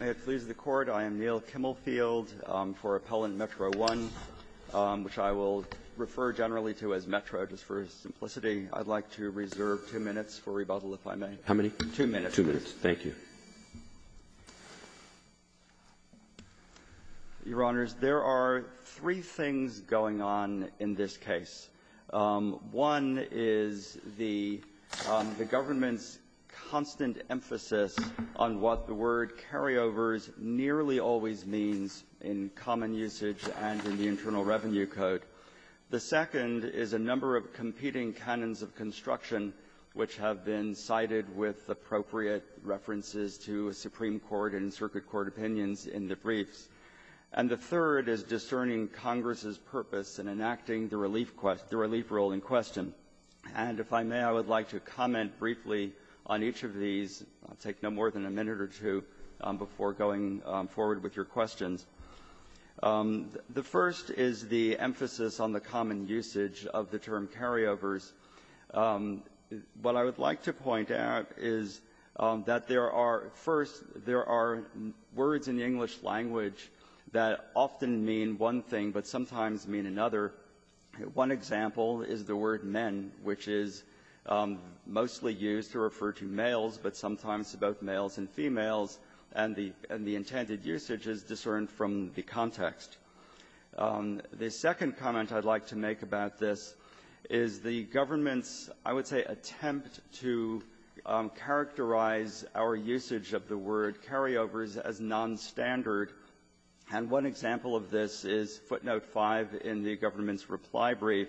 May it please the Court, I am Neal Kimmelfield for Appellant Metro One, which I will refer generally to as Metro just for simplicity. I'd like to reserve two minutes for rebuttal, if I may. How many? Two minutes. Two minutes. Thank you. Your Honors, there are three things going on in this case. One is the government's constant emphasis on what the word carryovers nearly always means in common usage and in the Internal Revenue Code. The second is a number of competing canons of construction which have been cited with appropriate references to Supreme Court and Circuit Court opinions in the briefs. And the third is discerning Congress's purpose in enacting the relief quest the relief role in question. And if I may, I would like to comment briefly on each of these. I'll take no more than a minute or two before going forward with your questions. The first is the emphasis on the common usage of the term carryovers. What I would like to point out is that there are, first, there are words in the English language that often mean one thing but sometimes mean another. One example is the word men, which is mostly used to refer to males, but sometimes about males and females, and the intended usage is discerned from the context. The second comment I'd like to make about this is the government's, I would say, attempt to characterize our usage of the word carryovers as nonstandard. And one example of this is footnote 5 in the government's reply brief,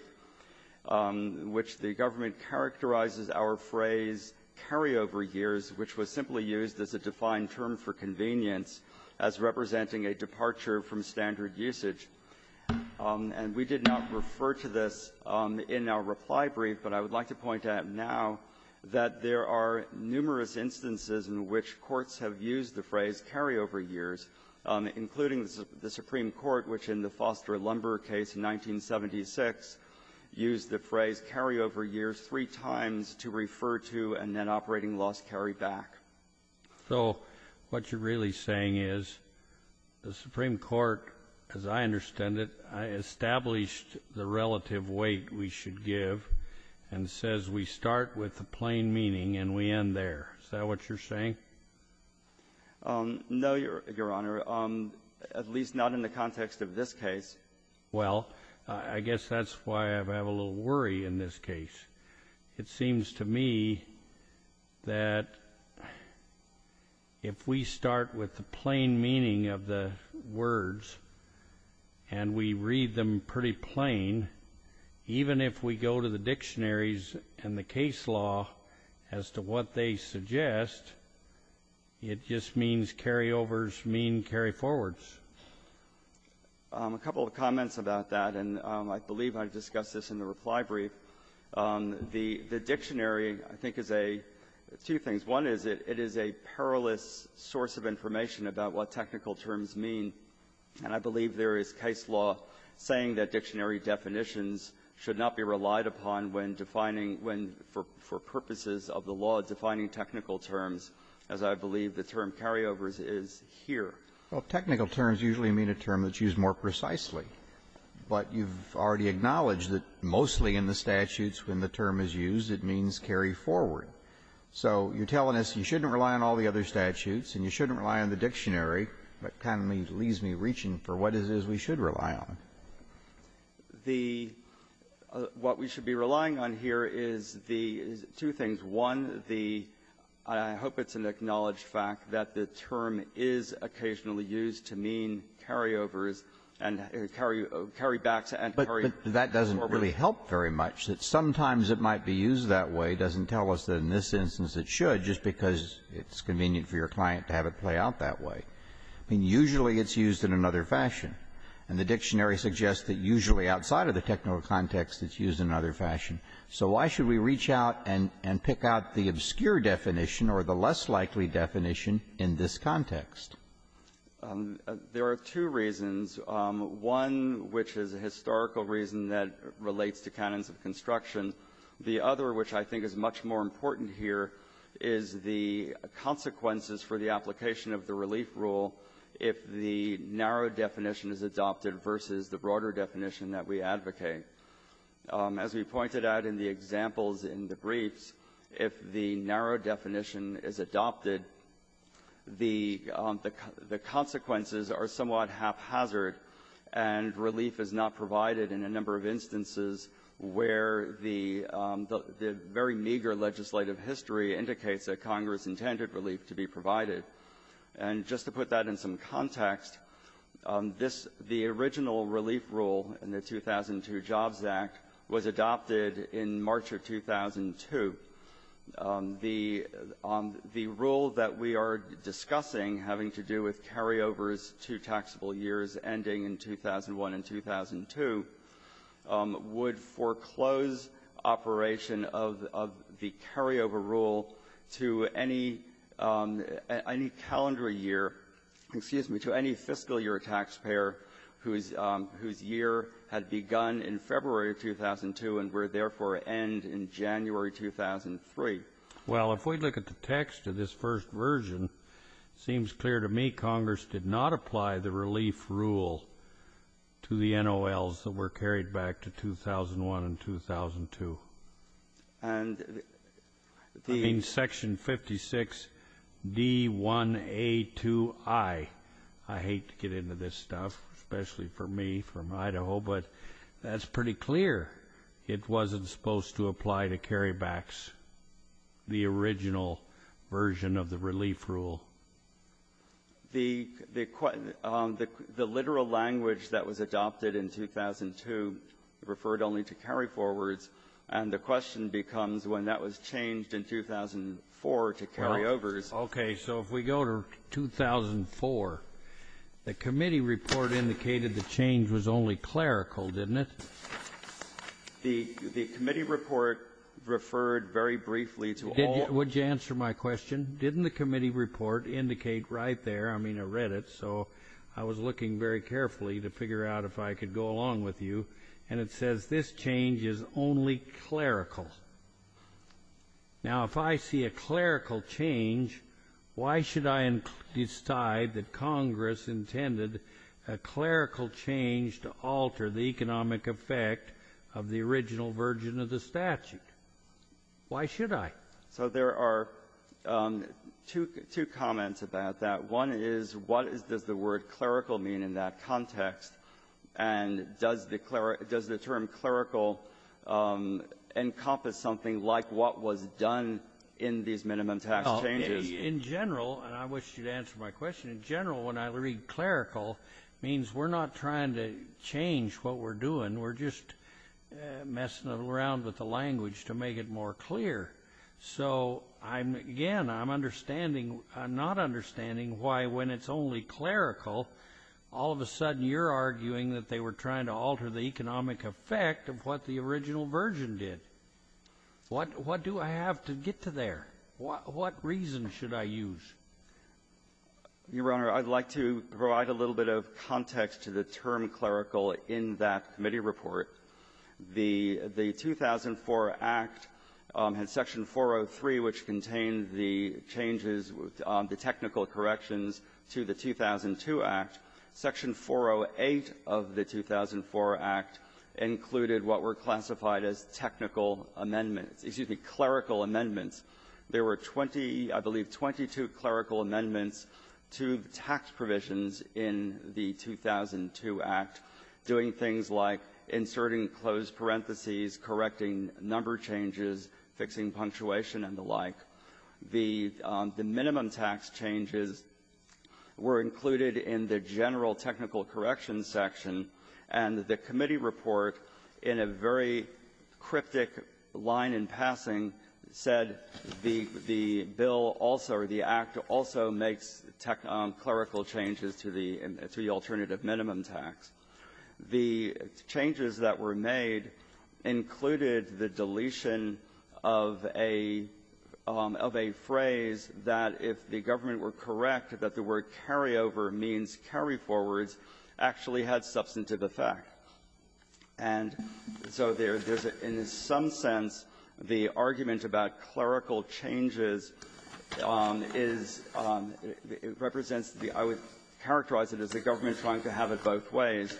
which the government characterizes our phrase, carryover years, which was simply used as a defined term for convenience as representing a departure from standard usage. And we did not refer to this in our reply brief, but I would like to point out now that there are including the Supreme Court, which in the Foster-Lumber case in 1976 used the phrase carryover years three times to refer to a net operating loss carryback. So what you're really saying is the Supreme Court, as I understand it, established the relative weight we should give and says we start with the plain meaning and we end there. Is that what you're saying? No, Your Honor, at least not in the context of this case. Well, I guess that's why I have a little worry in this case. It seems to me that if we start with the plain meaning of the words and we read them pretty plain, even if we go to the dictionaries and the case law as to what they suggest, it just means carryovers mean carryforwards. A couple of comments about that, and I believe I discussed this in the reply brief. The dictionary, I think, is a two things. One is it is a perilous source of information about what technical terms mean. And I believe there is case law saying that dictionary definitions should not be relied upon when defining when, for purposes of the law, defining technical terms, as I believe the term carryovers is here. Well, technical terms usually mean a term that's used more precisely. But you've already acknowledged that mostly in the statutes when the term is used, it means carryforward. So you're telling us you shouldn't rely on all the other statutes and you shouldn't be reaching for what it is we should rely on. The what we should be relying on here is the two things. One, the I hope it's an acknowledged fact that the term is occasionally used to mean carryovers and carrybacks and carryforward. But that doesn't really help very much. Sometimes it might be used that way. It doesn't tell us that in this instance it should just because it's convenient for your client to have it play out that way. I mean, usually it's used in another fashion. And the dictionary suggests that usually outside of the technical context, it's used in another fashion. So why should we reach out and pick out the obscure definition or the less likely definition in this context? There are two reasons, one which is a historical reason that relates to canons of construction. The other, which I think is much more important here, is the consequences for the application of the relief rule if the narrow definition is adopted versus the broader definition that we advocate. As we pointed out in the examples in the briefs, if the narrow definition is adopted, the consequences are somewhat haphazard and relief is not provided in a number of instances where the very meager legislative history indicates that Congress intended relief to be provided. And just to put that in some context, this the original relief rule in the 2002 Jobs Act was adopted in March of 2002. The rule that we are discussing having to do with carryovers to taxable years ending in 2001 and 2002 would foreclose operation of the carryover rule to any taxable year, excuse me, to any fiscal year taxpayer whose year had begun in February of 2002 and would therefore end in January 2003. Well, if we look at the text of this first version, it seems clear to me Congress did not apply the relief rule to the NOLs that were carried back to 2001 and 2002. And the ---- I mean, Section 56D1A2I. I hate to get into this stuff, especially for me from Idaho, but that's pretty clear it wasn't supposed to apply to carrybacks, the original version of the relief rule. The literal language that was adopted in 2002 referred only to carry-forwards, and the question becomes when that was changed in 2004 to carry-overs. Okay. So if we go to 2004, the committee report indicated the change was only clerical, didn't it? The committee report referred very briefly to all ---- Would you answer my question? Didn't the committee report indicate right there, I mean, I read it, so I was looking very carefully to figure out if I could go along with you, and it says this change is only clerical. Now, if I see a clerical change, why should I decide that Congress intended a clerical change to alter the economic effect of the original version of the statute? Why should I? So there are two comments about that. One is, what does the word clerical mean in that context, and does the term clerical encompass something like what was done in these minimum tax changes? In general, and I wish you'd answer my question, in general, when I read clerical, it means we're not trying to change what we're doing. We're just messing around with the language to make it more clear. So, again, I'm not understanding why when it's only clerical, all of a sudden you're trying to alter the economic effect of what the original version did. What do I have to get to there? What reason should I use? Your Honor, I'd like to provide a little bit of context to the term clerical in that committee report. The 2004 Act, in Section 403, which contained the changes, the technical corrections to the 2002 Act, Section 408 of the 2004 Act included what were classified as technical amendments. Excuse me, clerical amendments. There were 20, I believe, 22 clerical amendments to the tax provisions in the 2002 Act, doing things like inserting closed parentheses, correcting number changes, fixing punctuation, and the like. The minimum tax changes were included in the general technical corrections section, and the committee report, in a very cryptic line in passing, said the bill also, or the Act also makes clerical changes to the alternative minimum tax. The changes that were made included the deletion of a phrase that if the government were correct, that the word carryover means carryforwards actually had substantive effect. And so there's, in some sense, the argument about clerical changes is the I would characterize it as the government trying to have it both ways.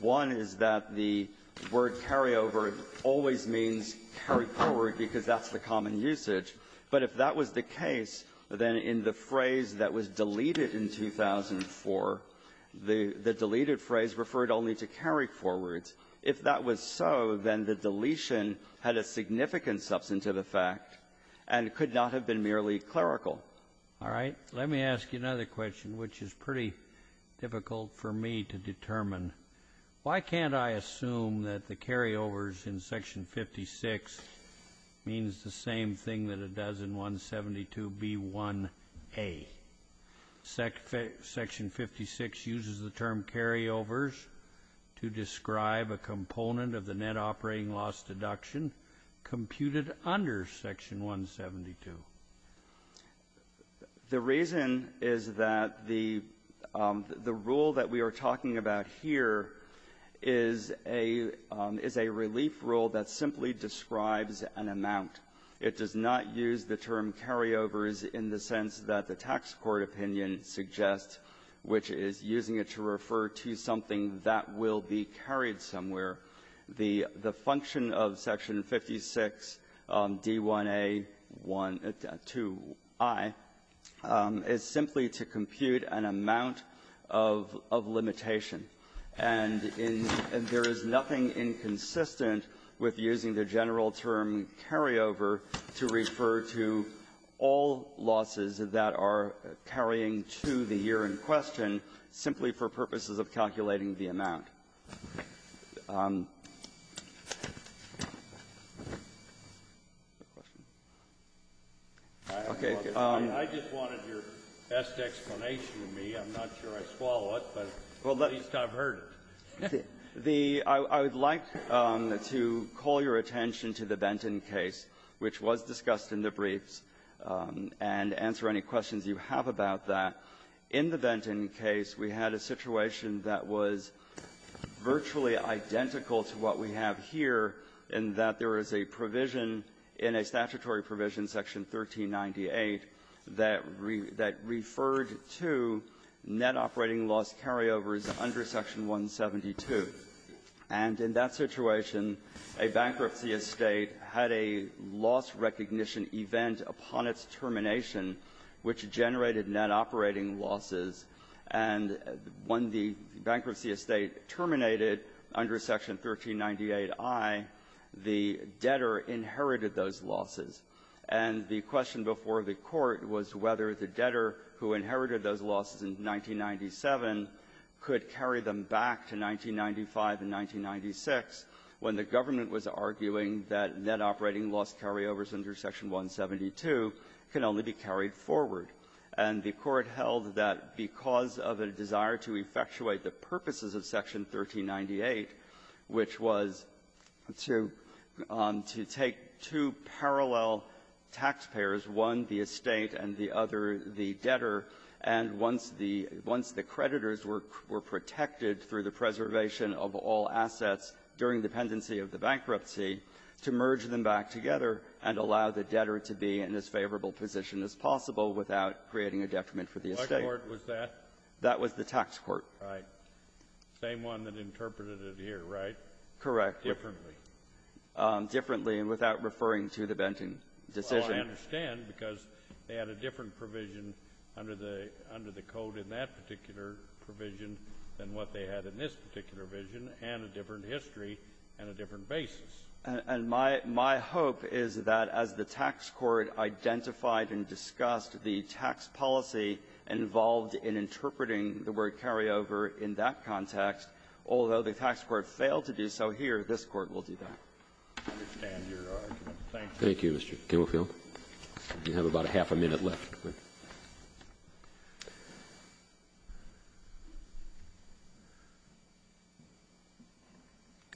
One is that the word carryover always means carryforward, because that's the common usage. But if that was the case, then in the phrase that was deleted in 2004, the deleted phrase referred only to carryforwards. If that was so, then the deletion had a significant substantive effect and could not have been merely clerical. All right. Let me ask you another question, which is pretty difficult for me to determine. Why can't I assume that the carryovers in section 56 means the same thing that it does in 172B1A? Section 56 uses the term carryovers to describe a component of the net operating loss deduction computed under section 172. The reason is that the rule that we are talking about here is a relief rule that simply describes an amount. It does not use the term carryovers in the sense that the tax court opinion suggests, which is using it to refer to something that will be carried somewhere, the function of section 56D1A2I is simply to compute an amount of limitation. And in there is nothing inconsistent with using the general term carryover to refer to all losses that are carrying to the year in question simply for purposes of calculating the amount. The question? Okay. I just wanted your best explanation of me. I'm not sure I swallow it, but at least I've heard it. The -- I would like to call your attention to the Benton case, which was discussed in the briefs, and answer any questions you have about that. In the Benton case, we had a situation that was virtually identical to what we have here in that there is a provision in a statutory provision, section 1398, that referred to net operating loss carryovers under section 172. And in that situation, a bankruptcy estate had a loss-recognition event upon its net operating losses, and when the bankruptcy estate terminated under section 1398I, the debtor inherited those losses. And the question before the Court was whether the debtor who inherited those losses in 1997 could carry them back to 1995 and 1996 when the government was arguing that net operating loss carryovers under section 172 can only be carried forward. And the Court held that because of a desire to effectuate the purposes of section 1398, which was to take two parallel taxpayers, one the estate and the other the debtor, and once the creditors were protected through the preservation of all assets during the pendency of the bankruptcy, to merge them back together and allow the creating a detriment for the estate. Kennedy, that was the tax court. Kennedy, right. Same one that interpreted it here, right? Correct. Differently. Differently, and without referring to the Benton decision. Well, I understand, because they had a different provision under the code in that particular provision than what they had in this particular provision, and a different history and a different basis. And my hope is that as the tax court identified and discussed the tax policy involved in interpreting the word carryover in that context, although the tax court failed to do so here, this Court will do that. I understand your argument. Thank you. Thank you, Mr. Kimmelfield. You have about a half a minute left. Good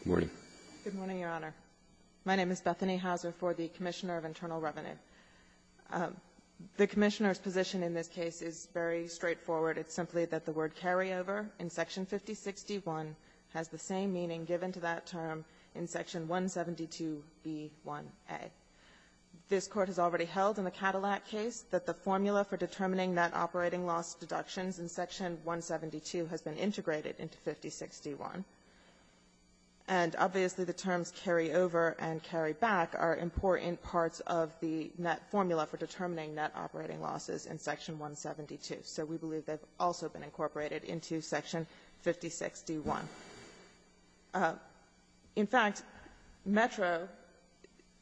morning. Good morning, Your Honor. My name is Bethany Hauser for the Commissioner of Internal Revenue. The Commissioner's position in this case is very straightforward. It's simply that the word carryover in Section 5061 has the same meaning given to that term in Section 172b1a. This Court has already held in the Cadillac case that the formula for determining that operating loss deductions in Section 172 has been integrated into 56d1. And obviously, the terms carryover and carryback are important parts of the net formula for determining net operating losses in Section 172. So we believe they've also been incorporated into Section 56d1. In fact, Metro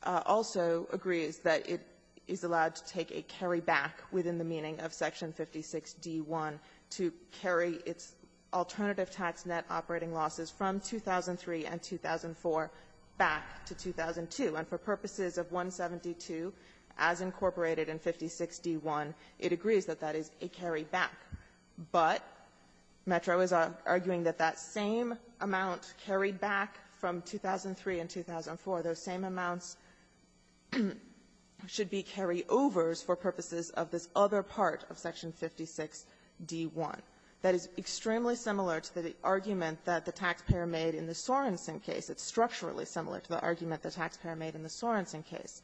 also agrees that it is allowed to take a carryback within the meaning of Section 56d1 to carry its alternative tax net operating losses from 2003 and 2004 back to 2002. And for purposes of 172, as incorporated in 56d1, it agrees that that is a carryback. But Metro is arguing that that same amount carried back from 2003 and 2004, those same amounts should be carryovers for purposes of this other part of Section 56d1. That is extremely similar to the argument that the taxpayer made in the Sorensen case. It's structurally similar to the argument the taxpayer made in the Sorensen case,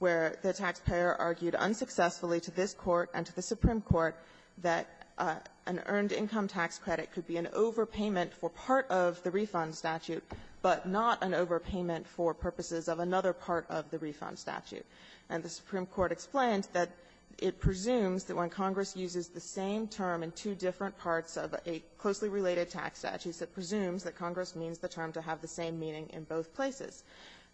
where the taxpayer argued unsuccessfully to this Court and to the Supreme Court that an earned income tax credit could be an overpayment for part of the refund statute, but not an overpayment for purposes of another part of the refund statute. And the Supreme Court explained that it presumes that when Congress uses the same term in two different parts of a closely related tax statute, it presumes that Congress means the term to have the same meaning in both places.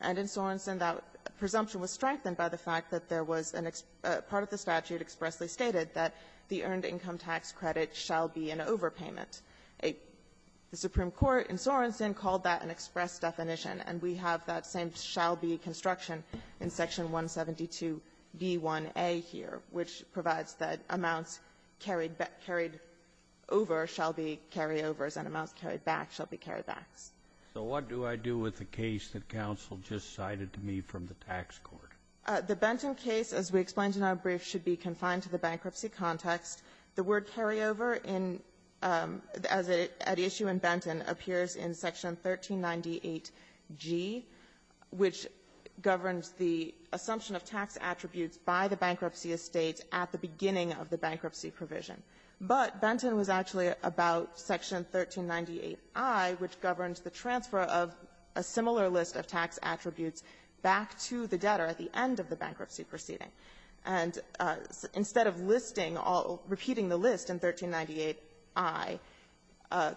And in Sorensen, that presumption was strengthened by the fact that there was a part of the statute expressly stated that the earned income tax credit shall be an overpayment. The Supreme Court in Sorensen called that an express definition, and we have that same shall be construction in Section 172b1a here, which provides that amounts carried over shall be carryovers, and amounts carried back shall be carrybacks. So what do I do with the case that counsel just cited to me from the tax court? The Benton case, as we explained in our brief, should be confined to the bankruptcy context. The word carryover in the issue in Benton appears in Section 1398G, which governs the assumption of tax attributes by the bankruptcy estate at the beginning of the bankruptcy provision. But Benton was actually about Section 1398I, which governs the transfer of a similar list of tax attributes back to the debtor at the end of the bankruptcy proceeding. And instead of listing all or repeating the list in 1398I,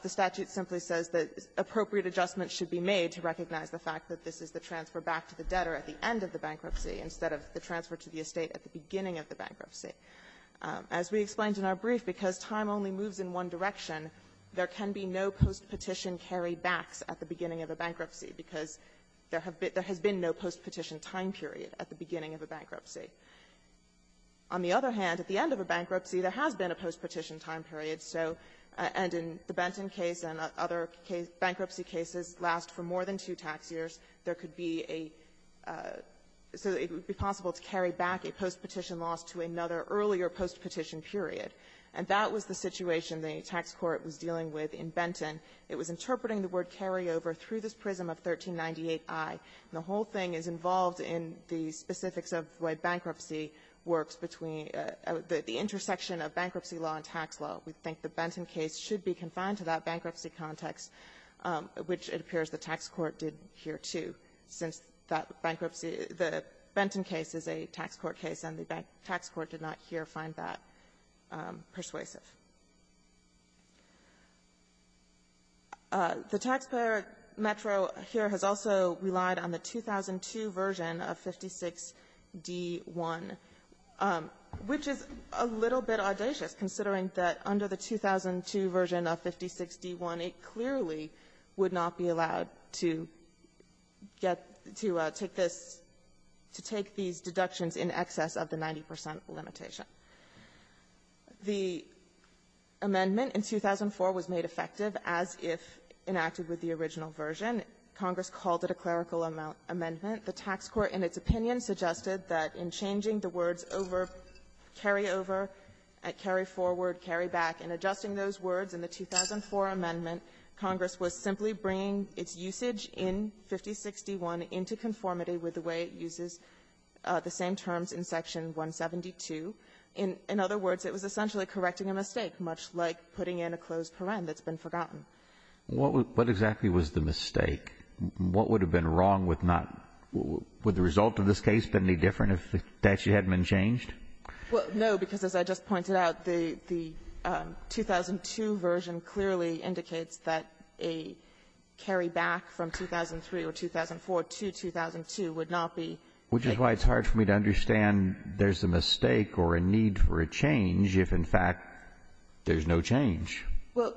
the statute simply says that appropriate adjustments should be made to recognize the fact that this is the transfer back to the debtor at the end of the bankruptcy instead of the transfer to the estate at the beginning of the bankruptcy. As we explained in our brief, because time only moves in one direction, there can be no postpetition carrybacks at the beginning of a bankruptcy, because there have been no postpetition time period at the beginning of a bankruptcy. On the other hand, at the end of a bankruptcy, there has been a postpetition time period. So and in the Benton case and other bankruptcy cases last for more than two tax years, there could be a so that it would be possible to carry back a postpetition loss to another earlier postpetition period. And that was the situation the tax court was dealing with in Benton. It was interpreting the word carryover through this prism of 1398I. And the whole thing is involved in the specifics of the way bankruptcy works between the intersection of bankruptcy law and tax law. We think the Benton case should be confined to that case, which it appears the tax court did here, too, since that bankruptcy the Benton case is a tax court case, and the tax court did not here find that persuasive. The taxpayer metro here has also relied on the 2002 version of 56D1, which is a little bit audacious, considering that under the 2002 version of 56D1, it clearly is a little bit more persuasive, and the tax court, obviously, would not be allowed to get to take this to take these deductions in excess of the 90 percent limitation. The amendment in 2004 was made effective as if enacted with the original version. Congress called it a clerical amendment. The tax court, in its opinion, suggested that in changing the words over, carryover, carryforward, carryback, and adjusting those words in the 2004 amendment, Congress was simply bringing its usage in 5061 into conformity with the way it uses the same terms in Section 172. In other words, it was essentially correcting a mistake, much like putting in a closed paren that's been forgotten. Alitoso, what exactly was the mistake? What would have been wrong with not the result of this case been any different if the statute hadn't been changed? Well, no, because as I just pointed out, the 2002 version clearly indicates that a carryback from 2003 or 2004 to 2002 would not be taken. Which is why it's hard for me to understand there's a mistake or a need for a change if, in fact, there's no change. Well,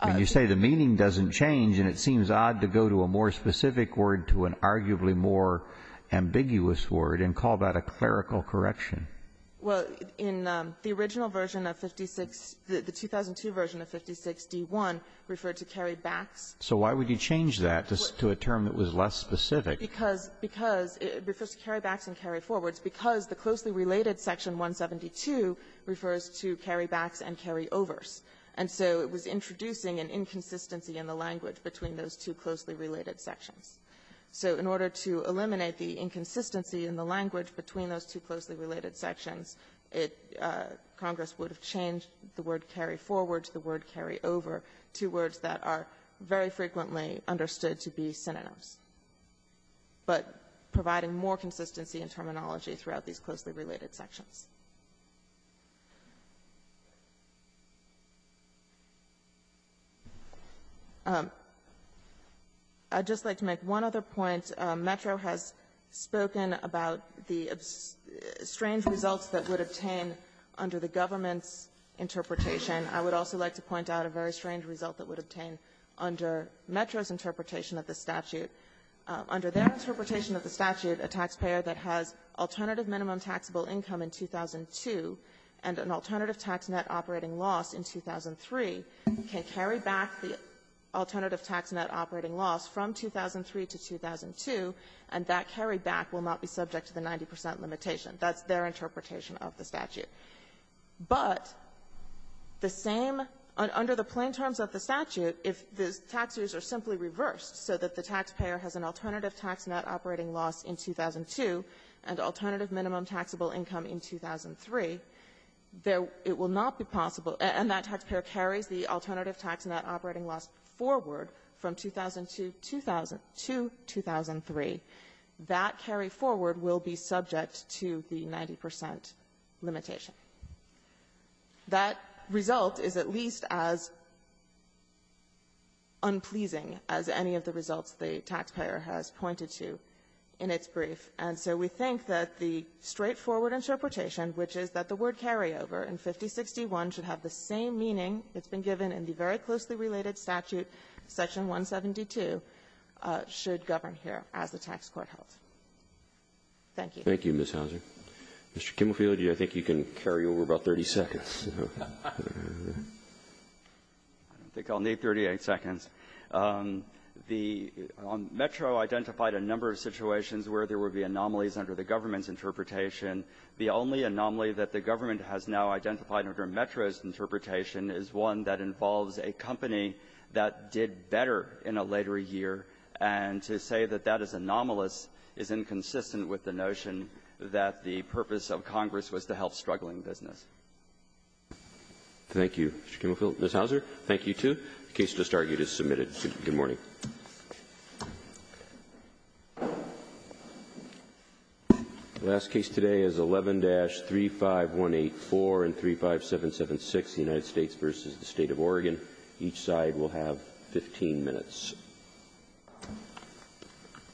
I'm going to say the meaning doesn't change, and it seems odd to go to a more arguably more ambiguous word and call that a clerical correction. Well, in the original version of 56, the 2002 version of 56d-1 referred to carrybacks. So why would you change that to a term that was less specific? Because it refers to carrybacks and carryforwards because the closely related Section 172 refers to carrybacks and carryovers. And so it was introducing an inconsistency in the language between those two closely related sections. So in order to eliminate the inconsistency in the language between those two closely related sections, it -- Congress would have changed the word carryforward to the word carryover, two words that are very frequently understood to be synonyms, but providing more consistency in terminology throughout these closely related sections. I'd just like to make one other point. Metro has spoken about the strange results that would obtain under the government's interpretation. I would also like to point out a very strange result that would obtain under Metro's interpretation of the statute. Under their interpretation of the statute, a taxpayer that has alternative minimum taxable income in 2002 and an alternative tax net operating loss in 2003 can carry back the alternative tax net operating loss from 2003 to 2002, and that carryback will not be subject to the 90 percent limitation. That's their interpretation of the statute. But the same under the plain terms of the statute, if the taxes are simply reversed so that the taxpayer has an alternative tax net operating loss in 2002 and alternative minimum taxable income in 2003, there -- it will not be possible, and that taxpayer carries the alternative tax net operating loss forward from 2002 to 2003, that carryforward will be subject to the 90 percent limitation. That result is at least as unpleasing as any of the results the taxpayer has pointed to in its brief. And so we think that the straightforward interpretation, which is that the word carryover in 5061 should have the same meaning that's been given in the very closely related statute, Section 172, should govern here as the tax court held. Thank you. Roberts. Thank you, Ms. Houser. Mr. Kimmelfield, I think you can carry over about 30 seconds. Kimmelfield. I don't think I'll need 38 seconds. The Metro identified a number of situations where there would be anomalies under the government's interpretation. The only anomaly that the government has now identified under Metro's interpretation is one that involves a company that did better in a later year, and to say that that is anomalous is inconsistent with the notion that the purpose of Congress was to help struggling business. Roberts. Thank you, Mr. Kimmelfield. Ms. Houser. Thank you, too. The case just argued is submitted. Good morning. The last case today is 11-35184 and 35776, the United States v. the State of Oregon.